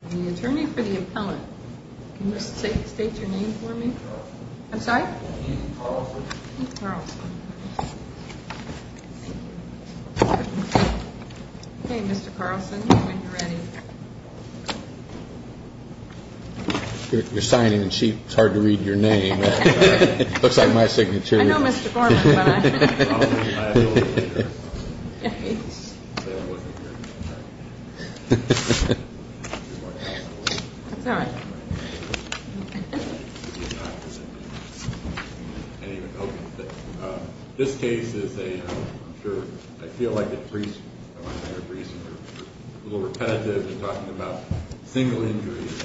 The attorney for the appellant. Can you state your name for me? I'm sorry? Carlson. Okay, Mr. Carlson, when you're ready. You're signing, and it's hard to read your name. It looks like my signature. I know Mr. Gorman, but I... My ability to hear. That's all right. This case is a... I feel like it's a little repetitive. We're talking about single injuries.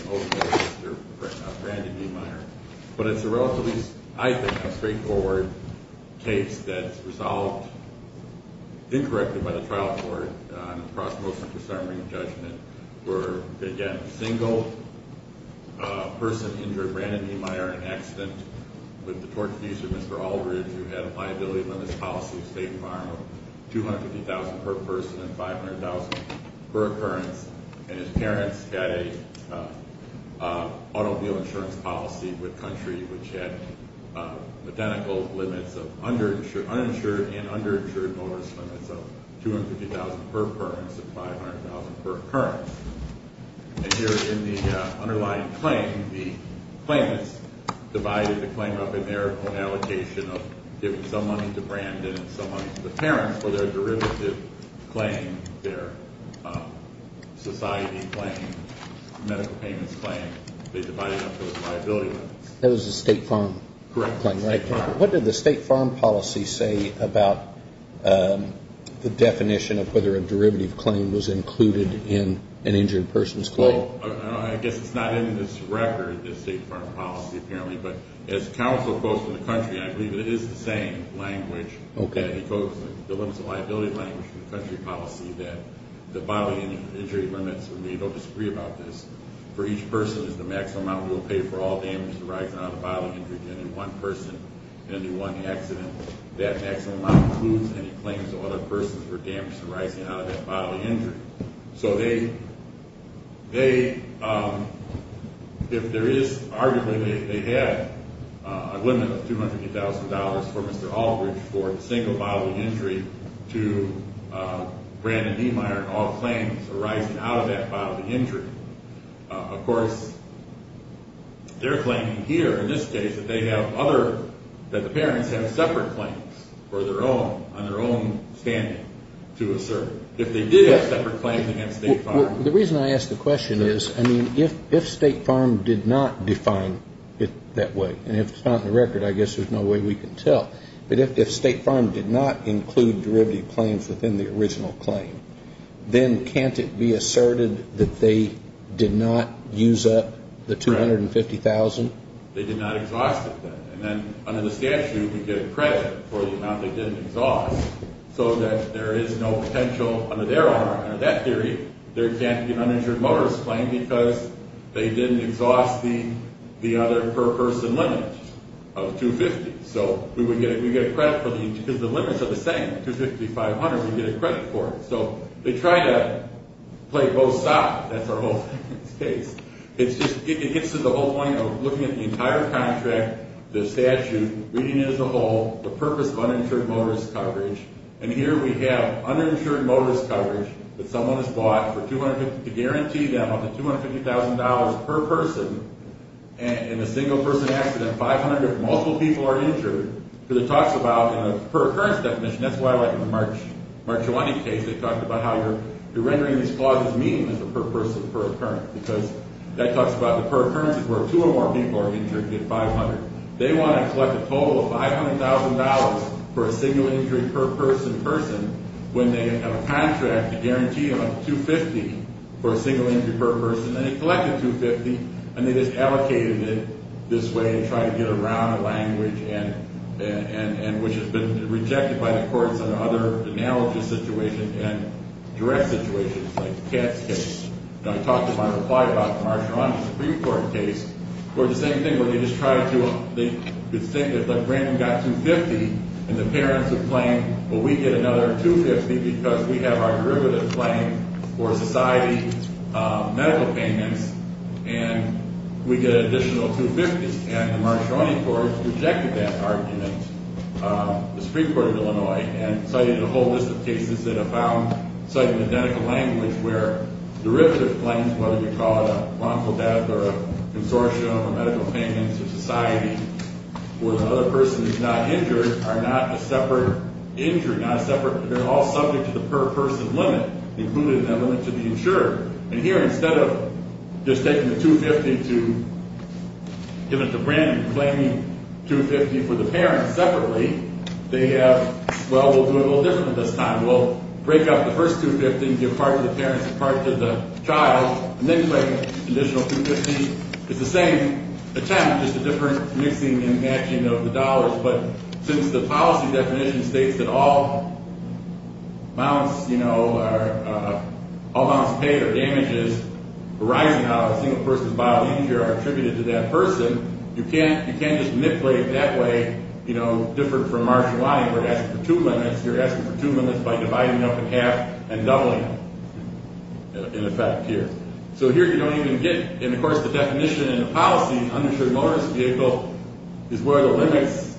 But it's a relatively, I think, straightforward case that's resolved incorrectly by the trial court on a cross-motion disarming judgment where they get a single person injured, Brandon Niemier, in an accident with the tort infuser, Mr. Aldridge, who had a liability limits policy of $250,000 per person and $500,000 per occurrence, and his parents had a automobile insurance policy with Country, which had identical limits of uninsured and underinsured motorist limits of $250,000 per occurrence and $500,000 per occurrence. And here in the underlying claim, the claimants divided the claim up in their own allocation of giving some money to Brandon and some money to the parents for their derivative claim, their society claim, medical payments claim. They divided up those liability limits. What did the state farm policy say about the definition of whether a derivative claim was included in an injured person's claim? Well, I guess it's not in this record, the state farm policy, apparently, but as counsel quotes from the Country, and I believe it is the same language that he quotes, the limits of liability language from the Country policy, that the bodily injury limits, and we don't disagree about this, for each person is the maximum amount we will pay for all damage arising out of bodily injury to any one person in any one accident. That maximum amount includes any claims of other persons for damage arising out of that bodily injury. If there is arguably they have a limit of $250,000 for Mr. Aldridge for a single bodily injury to Brandon Demeyer and all claims arising out of that bodily injury, of course their claim here in this case that they have other, that the parents have separate claims for their own, on their own standing to assert. If they did have separate claims against the state farm. The reason I ask the question is, I mean, if state farm did not define it that way, and if it's not in the record, I guess there's no way we can tell, but if state farm did not include derivative claims within the original claim, then can't it be asserted that they did not use up the $250,000? They did not exhaust it then. And then under the statute, we get credit for the amount they didn't exhaust so that there is no potential under their honor, under that theory, there can't be an uninjured motorist claim because they didn't exhaust the other per person limit of $250,000. So we get credit for the, because the limits are the same, $250,000, $500,000, we get a credit for it. So they try to play both sides, that's our whole case. It's just, it gets to the whole point of looking at the entire contract, the statute, reading it as a whole, the purpose of uninjured motorist coverage, and here we have uninjured motorist coverage that someone has bought for $250,000, to guarantee them up to $250,000 per person, and the single person accident, 500, if multiple people are injured, because it talks about, in a per occurrence definition, that's why I like the March, March 20 case, they talked about how you're rendering these clauses meaningless for per person, per occurrence, because that talks about the per occurrences where two or more people are injured, get 500. They want to collect a total of $500,000 for a single injury per person, person, when they have a contract to guarantee them up to $250,000 for a single injury per person, and they collected $250,000 and they just allocated it this way to try to get around the language, and which has been rejected by the courts in other analogous situations, and direct situations, like Kat's case, and I talked in my reply about the March on the Supreme Court case, where the same thing, where they just tried to, they could think that, look, Brandon got $250,000, and the parents would claim, well, we get another $250,000 because we have our derivative claim for society, medical payments, and we get an additional $250,000, and the March Joining Court rejected that argument on the Supreme Court of Illinois, and cited a whole list of cases that have found citing identical language where derivative claims, whether you call it a consortium or medical payments or society, where the other person is not included in that limit to be insured, and here, instead of just taking the $250,000 to give it to Brandon and claiming $250,000 for the parents separately, they have, well, we'll do it a little differently this time. We'll break up the first $250,000 and give part to the parents and part to the child, and then claim an additional $250,000. It's the same attempt, just a different mixing and matching of the dollars, but since the policy definition states that all amounts paid or damages arising out of a single person's bodily injury are attributed to that person, you can't just manipulate that way, different from March Joining Court asking for two limits. You're asking for two limits by dividing up in half and doubling, in effect, here. So here, you don't even get, and of course, the definition in the policy, uninsured motorist vehicle, is where the limits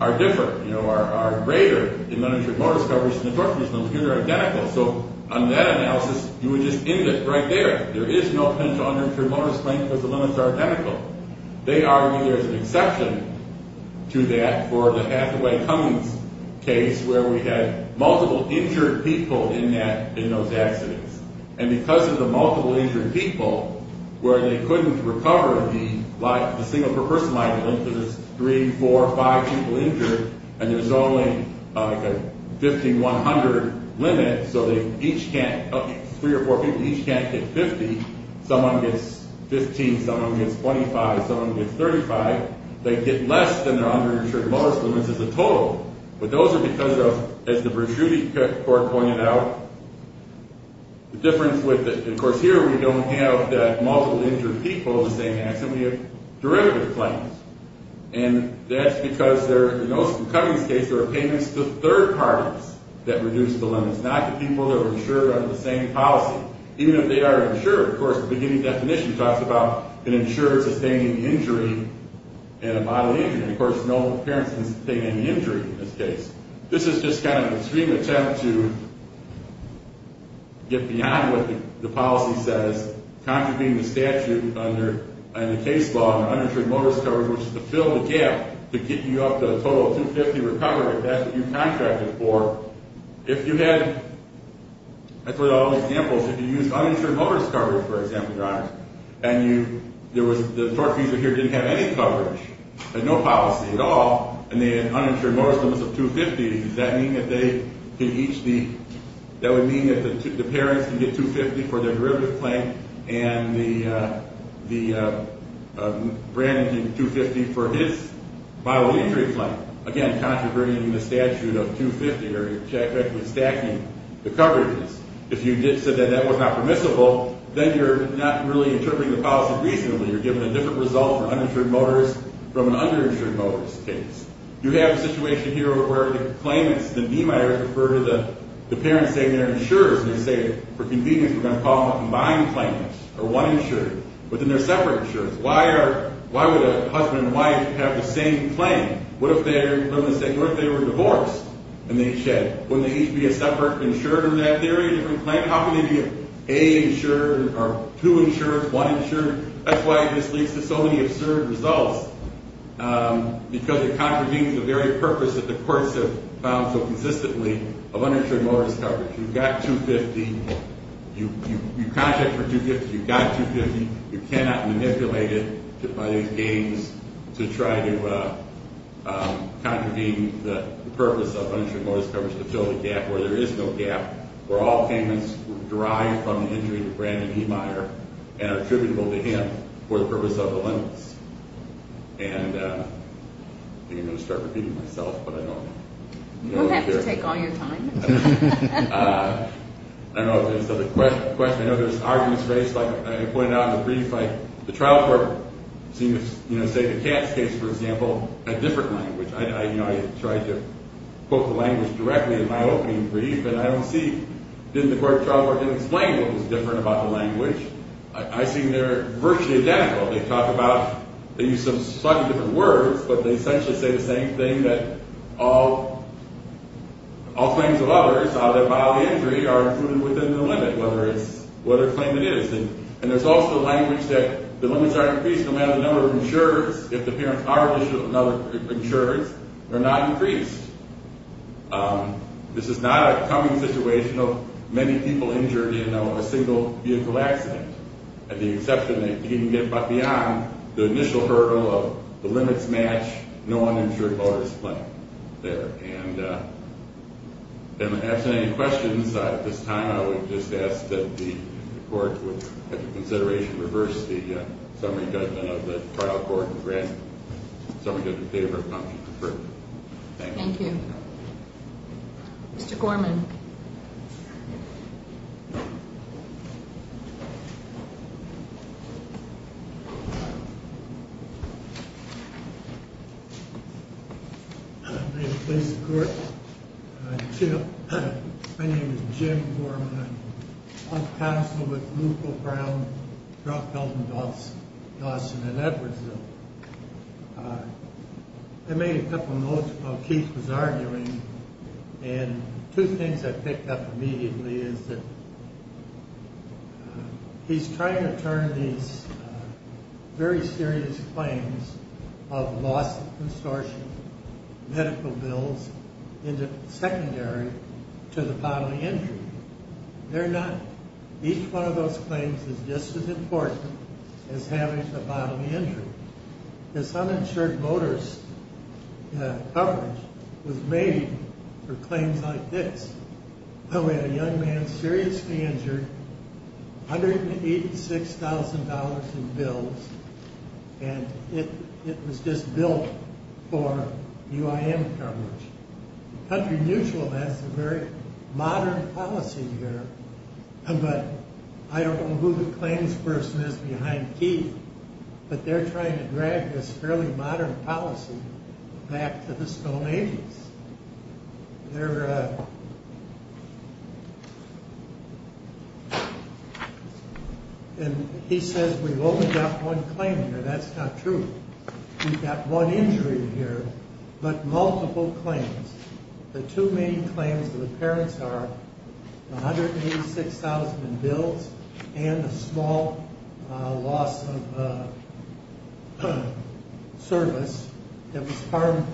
are different, are greater in the uninsured motorist coverage than the torturer's, and those two are identical, so on that analysis, you would just end it right there. There is no potential uninsured motorist claim because the limits are identical. They argue there's an exception to that for the Hathaway-Cummings case where we had multiple injured people in that, in those accidents, and because of the multiple injured people, where they couldn't recover the single per person limit because there's three, four, five people injured and there's only a 50-100 limit, so they each can't, three or four people each can't get 50, someone gets 15, someone gets 25, someone gets 35, they get less than their uninsured motorist limits as a total, but those are because of, as the Brasutti court pointed out, the difference with, of course, here we don't have multiple injured people in the same accident, we have derivative claims, and that's because in those Cummings cases there are payments to third parties that reduce the limits, not to people who are insured under the same policy. Even if they are insured, of course, the beginning definition talks about an insured sustaining injury and a bodily injury, and of course no parents can sustain any injury in this case. This is just kind of an extreme attempt to get beyond what the policy says, contravening the statute under the case law on uninsured motorist coverage, which is to fill the gap to get you up to a total of 250 recovery, that's what you contracted for. If you had, I threw out all the examples, if you used uninsured motorist coverage, for example, your honors, and you, there was, the tort visa here didn't have any coverage, had no policy at all, and they had uninsured motorist limits of 250, does that mean that they can each be, that would mean that the parents can get 250 for their derivative claim, and the, the, Brandon can get 250 for his bodily injury claim. Again, contravening the statute of 250, stacking the coverages. If you did say that that was not permissible, then you're not really interpreting the policy reasonably, you're giving a different result for uninsured motorist from an underinsured motorist case. You have a situation here where the claimants, the demeyers refer to the parents saying they're insurers, and they say, for convenience, we're going to call them a combined claimant, or one insurer, but then they're separate insurers. Why are, what if they were divorced, and they said, wouldn't they each be a separate insurer in that theory, a different claimant, how could they be a insurer, or two insurers, one insurer, that's why this leads to so many absurd results, because it contravenes the very purpose that the courts have found so consistently of uninsured motorist coverage. You've got 250, you, you, you contract for 250, you've got 250, you cannot manipulate it by these games to try to contravene the purpose of uninsured motorist coverage to fill the gap where there is no gap, where all claimants derive from the injury to Brandon Demeyer and are attributable to him for the purpose of the limits. And I think I'm going to start repeating myself, but I don't know. You don't have to take all your time. I don't know if there's another question. I know there's arguments raised, like I pointed out in the brief, like the trial court seemed to, you know, say the Katz case, for example, a different language. I, you know, I tried to quote the language directly in my opening brief, and I don't see, didn't the court, trial court, didn't explain what was different about the language. I see they're virtually identical. They talk about, they use some slightly different words, but they essentially say the same thing, that all claims of others, either by injury, are included within the limit, whether it's, whatever claim it is. And there's also language that the limits are increased no matter the number of insurers. If the parents are insured, the number of insurers are not increased. This is not a coming situation of many people injured in a single vehicle accident, at the exception that you can get beyond the initial hurdle of the limits match, no uninsured voters there. And if anyone has any questions at this time, I would just ask that the court would have the consideration to reverse the summary judgment of the trial court and grant the summary judgment in favor of function deferred. Thank you. Thank you. Mr. Gorman. May it please the court. My name is Jim Gorman. I'm on counsel with Luke O'Brown, Dr. Elton Dawson at Edwardsville. I made a couple notes while Keith was arguing, and two things I picked up immediately is that he's trying to turn these very serious claims of loss of consortium medical bills into secondary to the bodily injury. They're not. Each one of those claims is just as important as having the bodily injury. This uninsured voters' coverage was made for claims like this, where a young man seriously injured, $186,000 in bills, and it was just billed for UIM coverage. Country Mutual has a very modern policy here, but I don't know who the claims person is behind Keith, but they're trying to drag this fairly modern policy back to the Stone Ages. And he says we've only got one claim here. That's not true. We've got one injury here, but multiple claims. The two main claims of the parents are $186,000 in bills and a small loss of service. It was farm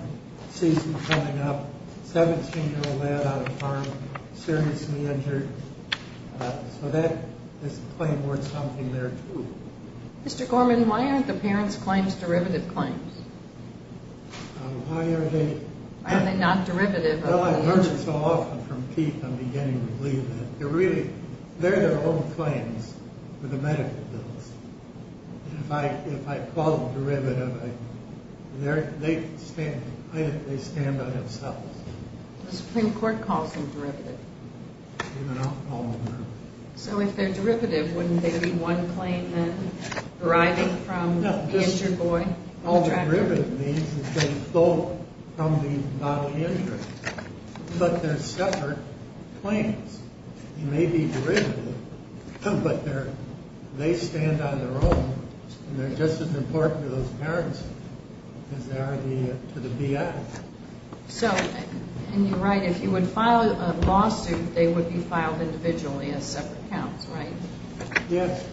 season coming up. Seventeen-year-old lad on a farm seriously injured. So that is a claim worth something there, too. Why are they not derivative? The Supreme Court calls them derivative. So if they're derivative, wouldn't there be one claim then deriving from the injured boy? No. All derivative means is they vote from the bodily injury. But they're separate claims. They may be derivative, but they stand on their own, and they're just as important to those parents as they are to the B.I. So, and you're right, if you would file a lawsuit, they would be filed individually as separate counts, right? Yes.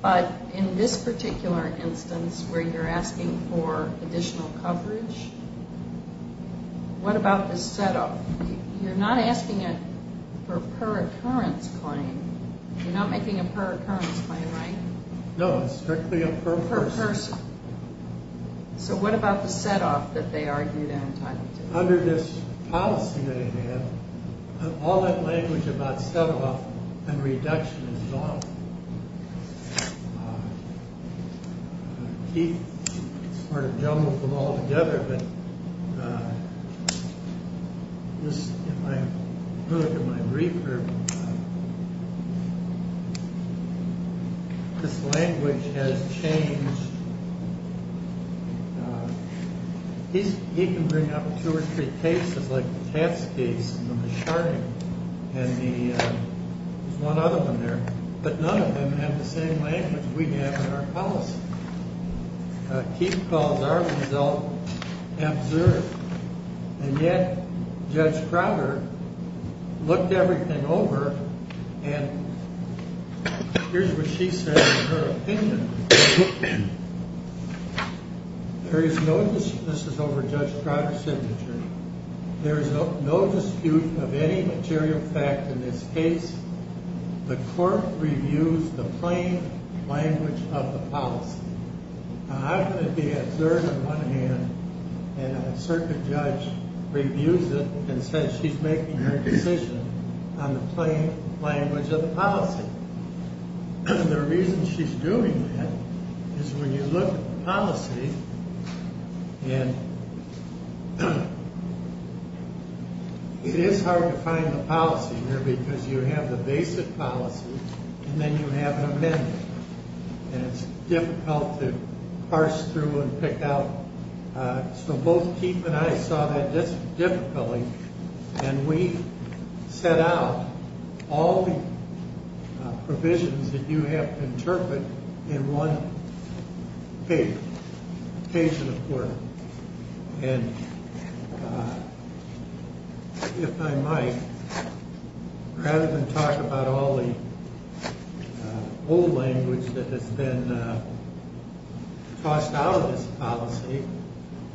But in this particular instance where you're asking for additional coverage, what about the set-off? You're not asking for a per-occurrence claim. You're not making a per-occurrence claim, right? No. It's strictly a per-person. So what about the set-off that they argued in entitlement to? Under this policy they have, all that language about set-off and reduction is gone. Keith sort of jumbled them all together, but this, if I look at my referral file, this language has changed. He can bring up two or three cases, like the Katz case and the Muschardt case, and there's one other one there, but none of them have the same language we have in our policy. Keith calls our result absurd. And yet Judge Crowder looked everything over, and here's what she said in her opinion. There is no, this is over Judge Crowder's signature, there is no dispute of any material fact in this case. The court reviews the plain language of the policy. Now how can it be absurd on one hand, and a circuit judge reviews it and says she's making her decision on the plain language of the policy? The reason she's doing that is when you look at the policy, and it is hard to find the policy here because you have the basic policy, and then you have an amendment, and it's difficult to parse through and pick out. So both Keith and I saw that this difficultly, and we set out all the provisions that you have to interpret in one page of the court. And if I might, rather than talk about all the old language that has been tossed out of this policy,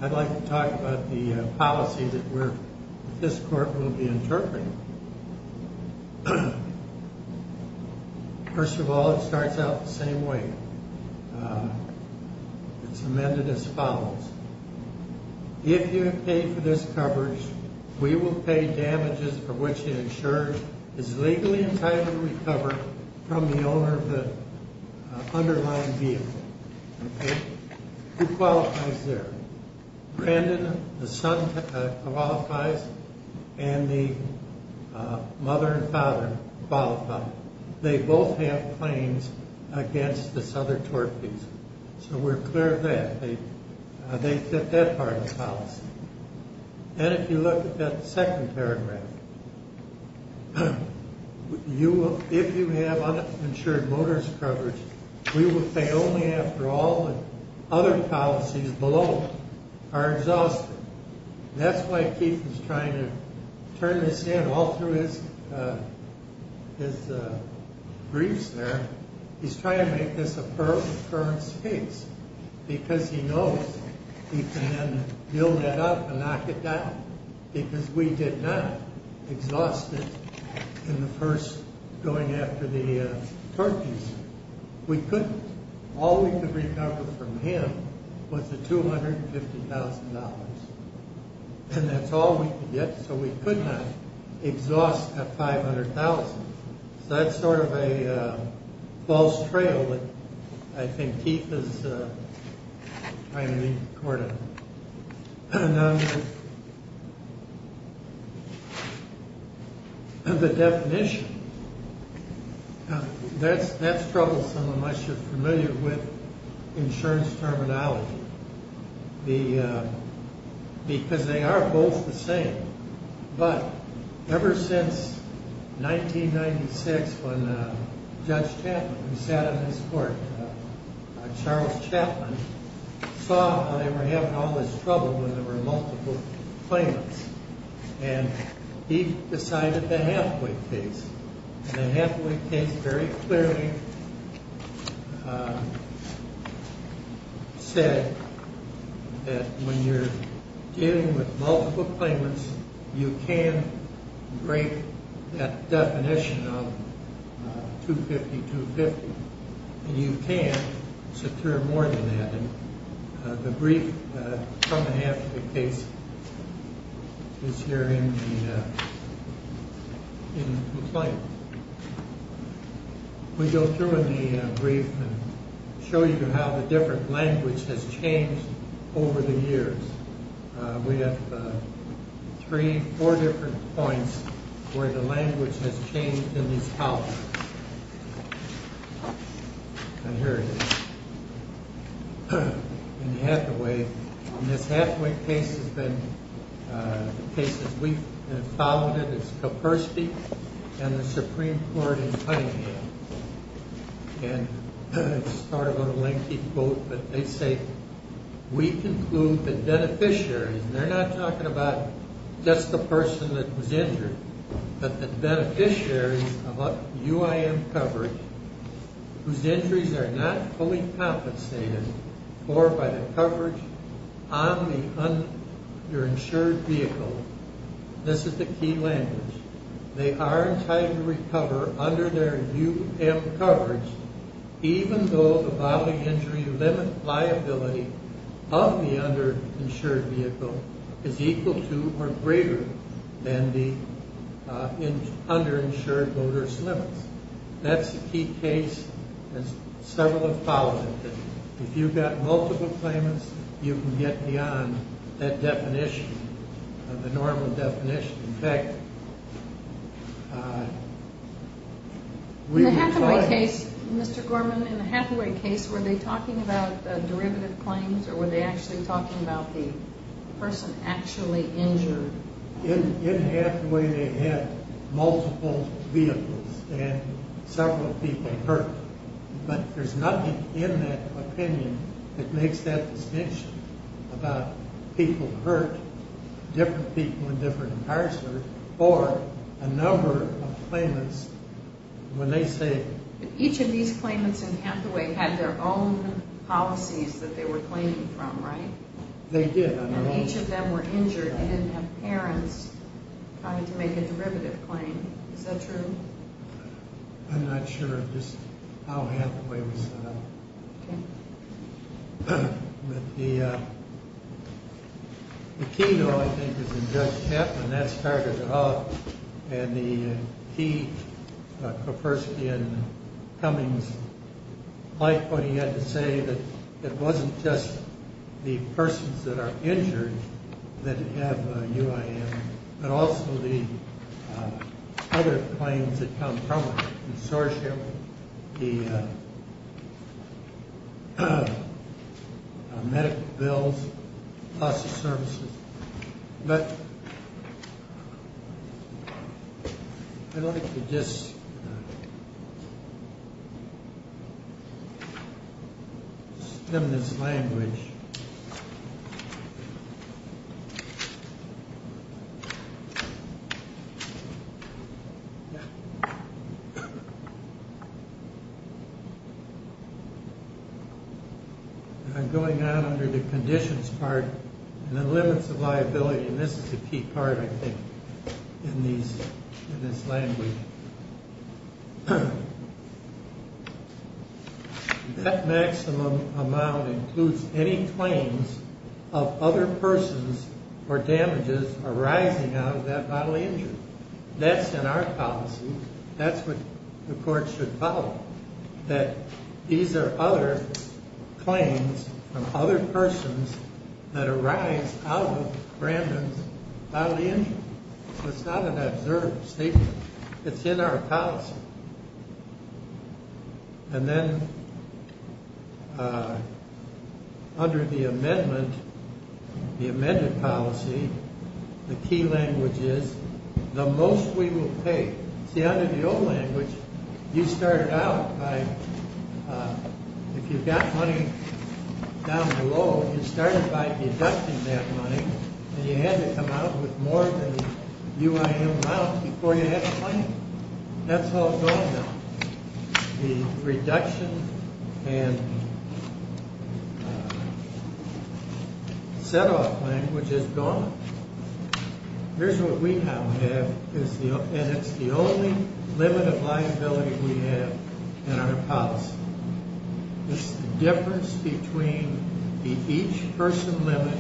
I'd like to talk about the policy that this court will be interpreting. First of all, it starts out the same way. It's amended as follows. If you have paid for this coverage, we will pay damages for which the insurer is legally entitled to recover from the owner of the underlying vehicle. Who qualifies there? Brandon, the son, qualifies, and the mother and father qualify. They both have claims against the Southern Torquies, so we're clear of that. They fit that part of the policy. And if you look at that second paragraph, if you have uninsured motorist coverage, we will pay only after all the other policies below are exhausted. That's why Keith is trying to turn this in all through his briefs there. He's trying to make this a pearl of current space, because he knows he can then build it up and knock it down, because we did not exhaust it in the first going after the Torquies. We couldn't. All we could recover from him was the $250,000. And that's all we could get, so we could not exhaust that $500,000. So that's sort of a false trail that I think Keith is trying to lead the court on. Now, the definition, that's troublesome unless you're familiar with insurance terminology, because they are both the same. But ever since 1996 when Judge Chapman, who sat on this court, Charles Chapman, saw how they were having all this trouble when there were multiple claimants, and he decided the halfway case. And the halfway case very clearly said that when you're dealing with multiple claimants, you can break that definition of $250,000, $250,000, and you can secure more than that. And the brief from the halfway case is here in the claimant. We go through in the brief and show you how the different language has changed over the years. We have three, four different points where the language has changed in these columns. And here it is. In the halfway, on this halfway case has been cases we've followed it. It's Kapursti and the Supreme Court in Cunningham. And it's part of a lengthy quote, but they say, we conclude that beneficiaries, and they're not talking about just the person that was injured, but that beneficiaries of UIM coverage whose injuries are not fully compensated for by the coverage on your insured vehicle. This is the key language. They are entitled to recover under their UIM coverage, even though the bodily injury limit liability of the underinsured vehicle is equal to or greater than the underinsured motorist limits. That's the key case, and several have followed it. If you've got multiple claimants, you can get beyond that definition, the normal definition. In fact, we've tried. In the Hathaway case, Mr. Gorman, in the Hathaway case, were they talking about derivative claims, or were they actually talking about the person actually injured? In Hathaway, they had multiple vehicles and several people hurt. But there's nothing in that opinion that makes that distinction about people hurt, different people in different empires or a number of claimants when they say. Each of these claimants in Hathaway had their own policies that they were claiming from, right? They did. And each of them were injured and didn't have parents trying to make a derivative claim. Is that true? I'm not sure just how Hathaway was set up. Okay. The key, though, I think, is in Judge Chapman. That started it off. And he, first in Cummings' plight when he had to say that it wasn't just the persons that are injured that have UIM, but also the other claims that come from it, the consortium, the medical bills, lots of services. But I'd like to just stem this language. I'm going on under the conditions part and the limits of liability. And this is the key part, I think, in this language. That maximum amount includes any claims of other persons or damages arising out of that bodily injury. That's in our policy. That's what the court should follow, that these are other claims from other persons that arise out of Brandon's bodily injury. It's not an observed statement. It's in our policy. And then, under the amendment, the amended policy, the key language is, the most we will pay. See, under the old language, you started out by, if you've got money down below, you started by deducting that money. And you had to come out with more than UIM amount before you had the money. That's all gone now. The reduction and set-off language is gone. Here's what we now have, and it's the only limit of liability we have in our policy. It's the difference between the each-person limit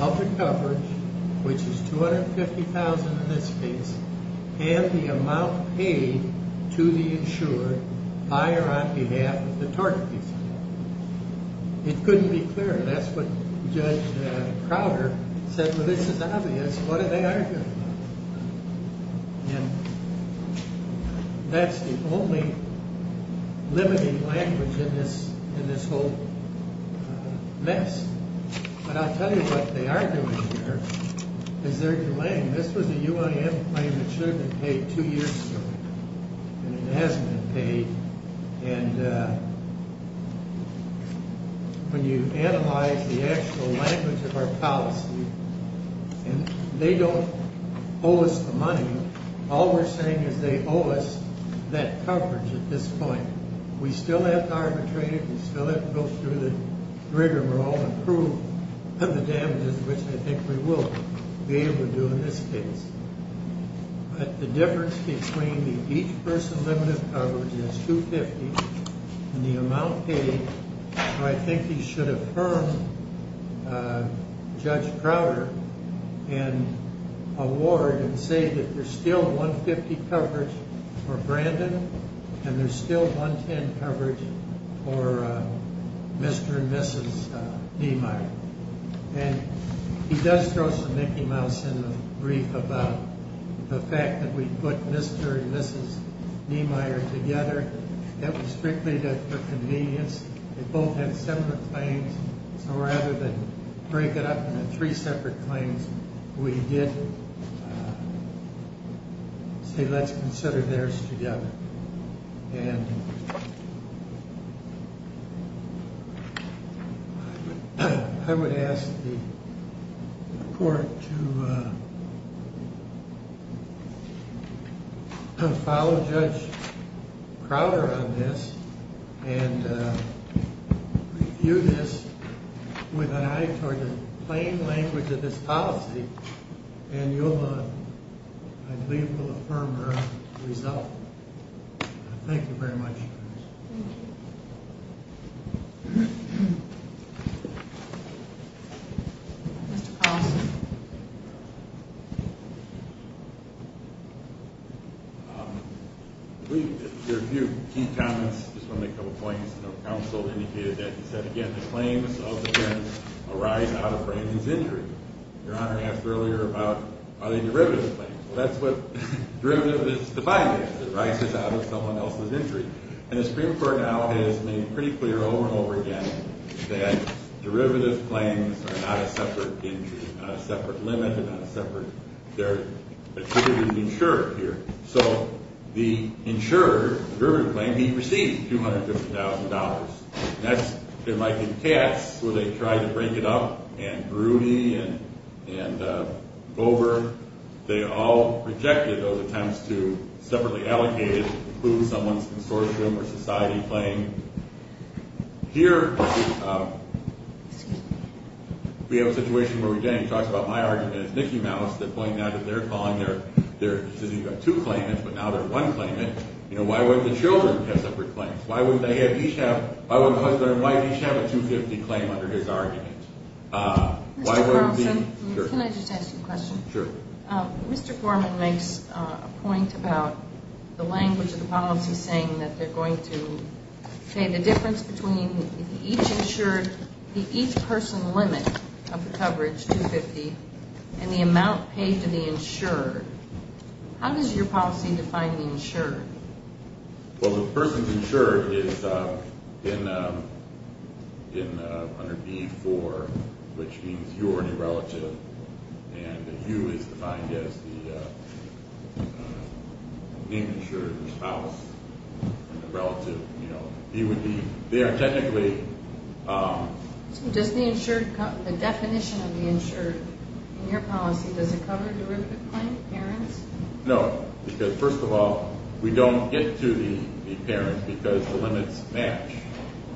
of the coverage, which is $250,000 in this case, and the amount paid to the insured by or on behalf of the target person. It couldn't be clearer. That's what Judge Crowder said, well, this is obvious. What are they arguing about? And that's the only limiting language in this whole mess. But I'll tell you what they are doing here is they're delaying. This was a UIM claim that should have been paid two years ago, and it hasn't been paid. And when you analyze the actual language of our policy, and they don't owe us the money. All we're saying is they owe us that coverage at this point. We still have to arbitrate it. We still have to go through the rigmarole and prove the damages, which I think we will be able to do in this case. But the difference between the each-person limit of coverage is $250,000, and the amount paid, I think he should affirm Judge Crowder and award and say that there's still $150,000 coverage for Brandon, and there's still $110,000 coverage for Mr. and Mrs. Niemeyer. And he does throw some Mickey Mouse in the brief about the fact that we put Mr. and Mrs. Niemeyer together. That was strictly for convenience. They both had similar claims. So rather than break it up into three separate claims, we did say let's consider theirs together. And I would ask the court to follow Judge Crowder on this and view this with an eye toward the plain language of this policy, and I believe you'll have a firmer result. Thank you very much. Thank you. Mr. Carlson. There are a few key comments. I just want to make a couple of points. The counsel indicated that he said, again, the claims of the parents arise out of Brandon's injury. Your Honor asked earlier about are they derivative claims. Well, that's what derivative is defined as. It arises out of someone else's injury. And the Supreme Court now has made it pretty clear over and over again that derivative claims are not a separate injury, not a separate limit, they're attributed to the insurer here. So the insurer, the derivative claim, he received $250,000. Next, it might be Katz, who they tried to break it up, and Broody and Boberg, they all rejected those attempts to separately allocate it to include someone's consortium or society claim. Here we have a situation where we talked about my argument. It's Mickey Mouse that pointed out that they're calling their decision about two claimants, but now they're one claimant. You know, why wouldn't the children have separate claims? Why wouldn't the husband and wife each have a $250,000 claim under his argument? Mr. Carlson, can I just ask you a question? Sure. Mr. Gorman makes a point about the language of the policy saying that they're going to pay the difference between each insured, the each person limit of the coverage, $250,000, and the amount paid to the insured. How does your policy define the insured? Well, the person's insured is under BE-4, which means you or any relative, and the you is defined as the name of the insured, the spouse, and the relative. You know, he would be there technically. So does the insured, the definition of the insured in your policy, does it cover derivative claim, parents? No, because first of all, we don't get to the parents because the limits match.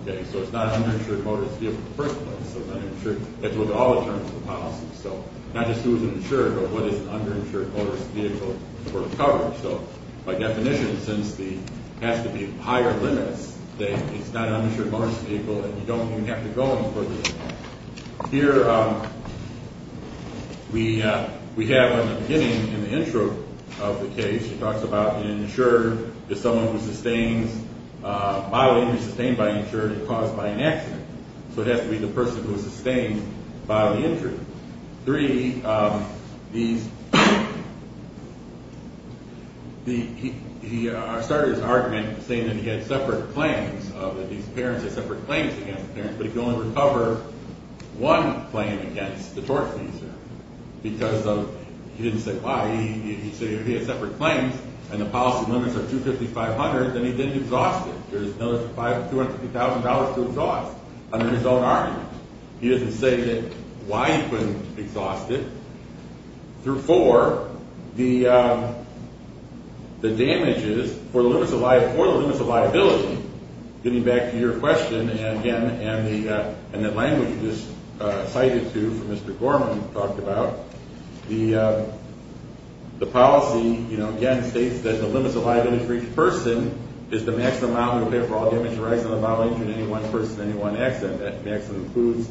Okay? So it's not an underinsured motorist vehicle in the first place. It's with all the terms of the policy. So not just who's an insured, but what is an underinsured motorist vehicle for coverage? So by definition, since there has to be higher limits, it's not an uninsured motorist vehicle, and you don't even have to go any further than that. Here we have in the beginning, in the intro of the case, it talks about an insured as someone who sustains, bodily injury sustained by an insured and caused by an accident. So it has to be the person who is sustained by the injury. Three, he started his argument saying that he had separate claims, that his parents had separate claims against the parents, but he could only recover one claim against the tort fees, because he didn't say why. He said he had separate claims, and the policy limits are $250,000, $500,000, and he didn't exhaust it. There's another $250,000 to exhaust under his own argument. He doesn't say why he couldn't exhaust it. Through four, the damages for the limits of liability, getting back to your question, and again, and the language you just cited to from Mr. Gorman talked about, the policy, you know, again, states that the limits of liability for each person is the maximum amount that will pay for all damage to the rights of the bodily injured, any one person, any one accident. That maximum includes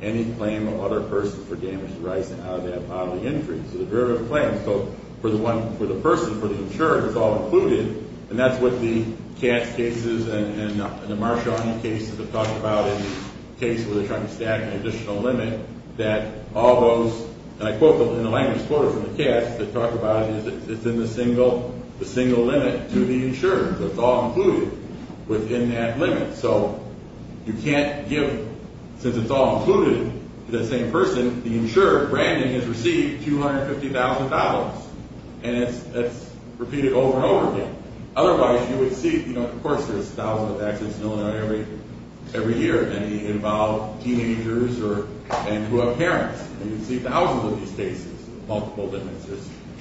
any claim of other person for damage to rights and how they have bodily injuries. So the derivative of claims, so for the one, for the person, for the insured, it's all included, and that's what the Katz cases and the Marshawn cases have talked about in the case where they're trying to stack an additional limit that all those, and I quote in the language quoted from the Katz, they talk about it as it's in the single limit to the insured, so it's all included within that limit. So you can't give, since it's all included to that same person, the insured. Brandon has received $250,000, and it's repeated over and over again. Otherwise, you would see, you know, of course, there's thousands of accidents in Illinois every year, and they involve teenagers or, and who have parents, and you see thousands of these cases with multiple limits.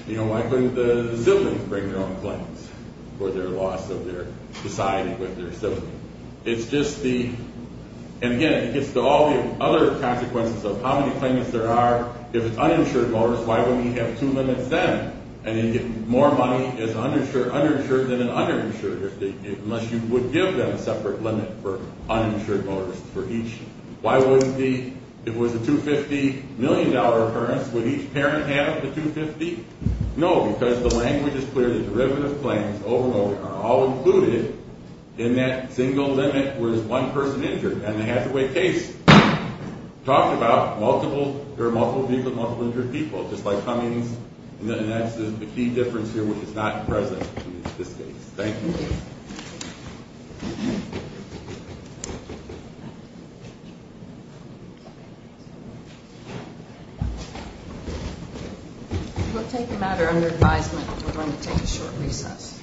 You know, why couldn't the siblings bring their own claims for their loss of their society with their sibling? It's just the, and again, it gets to all the other consequences of how many claims there are. If it's uninsured voters, why wouldn't you have two limits then? And then you get more money as uninsured than an underinsured, unless you would give them a separate limit for uninsured voters for each. Why wouldn't the, if it was a $250 million occurrence, would each parent have the 250? No, because the language is clear. The derivative claims, over and over, are all included in that single limit where there's one person injured, and they have to weigh case. Talk about multiple, there are multiple people, multiple injured people, just like Cummings, and that's the key difference here, which is not present in this case. Thank you. We'll take the matter under advisement. We're going to take a short recess.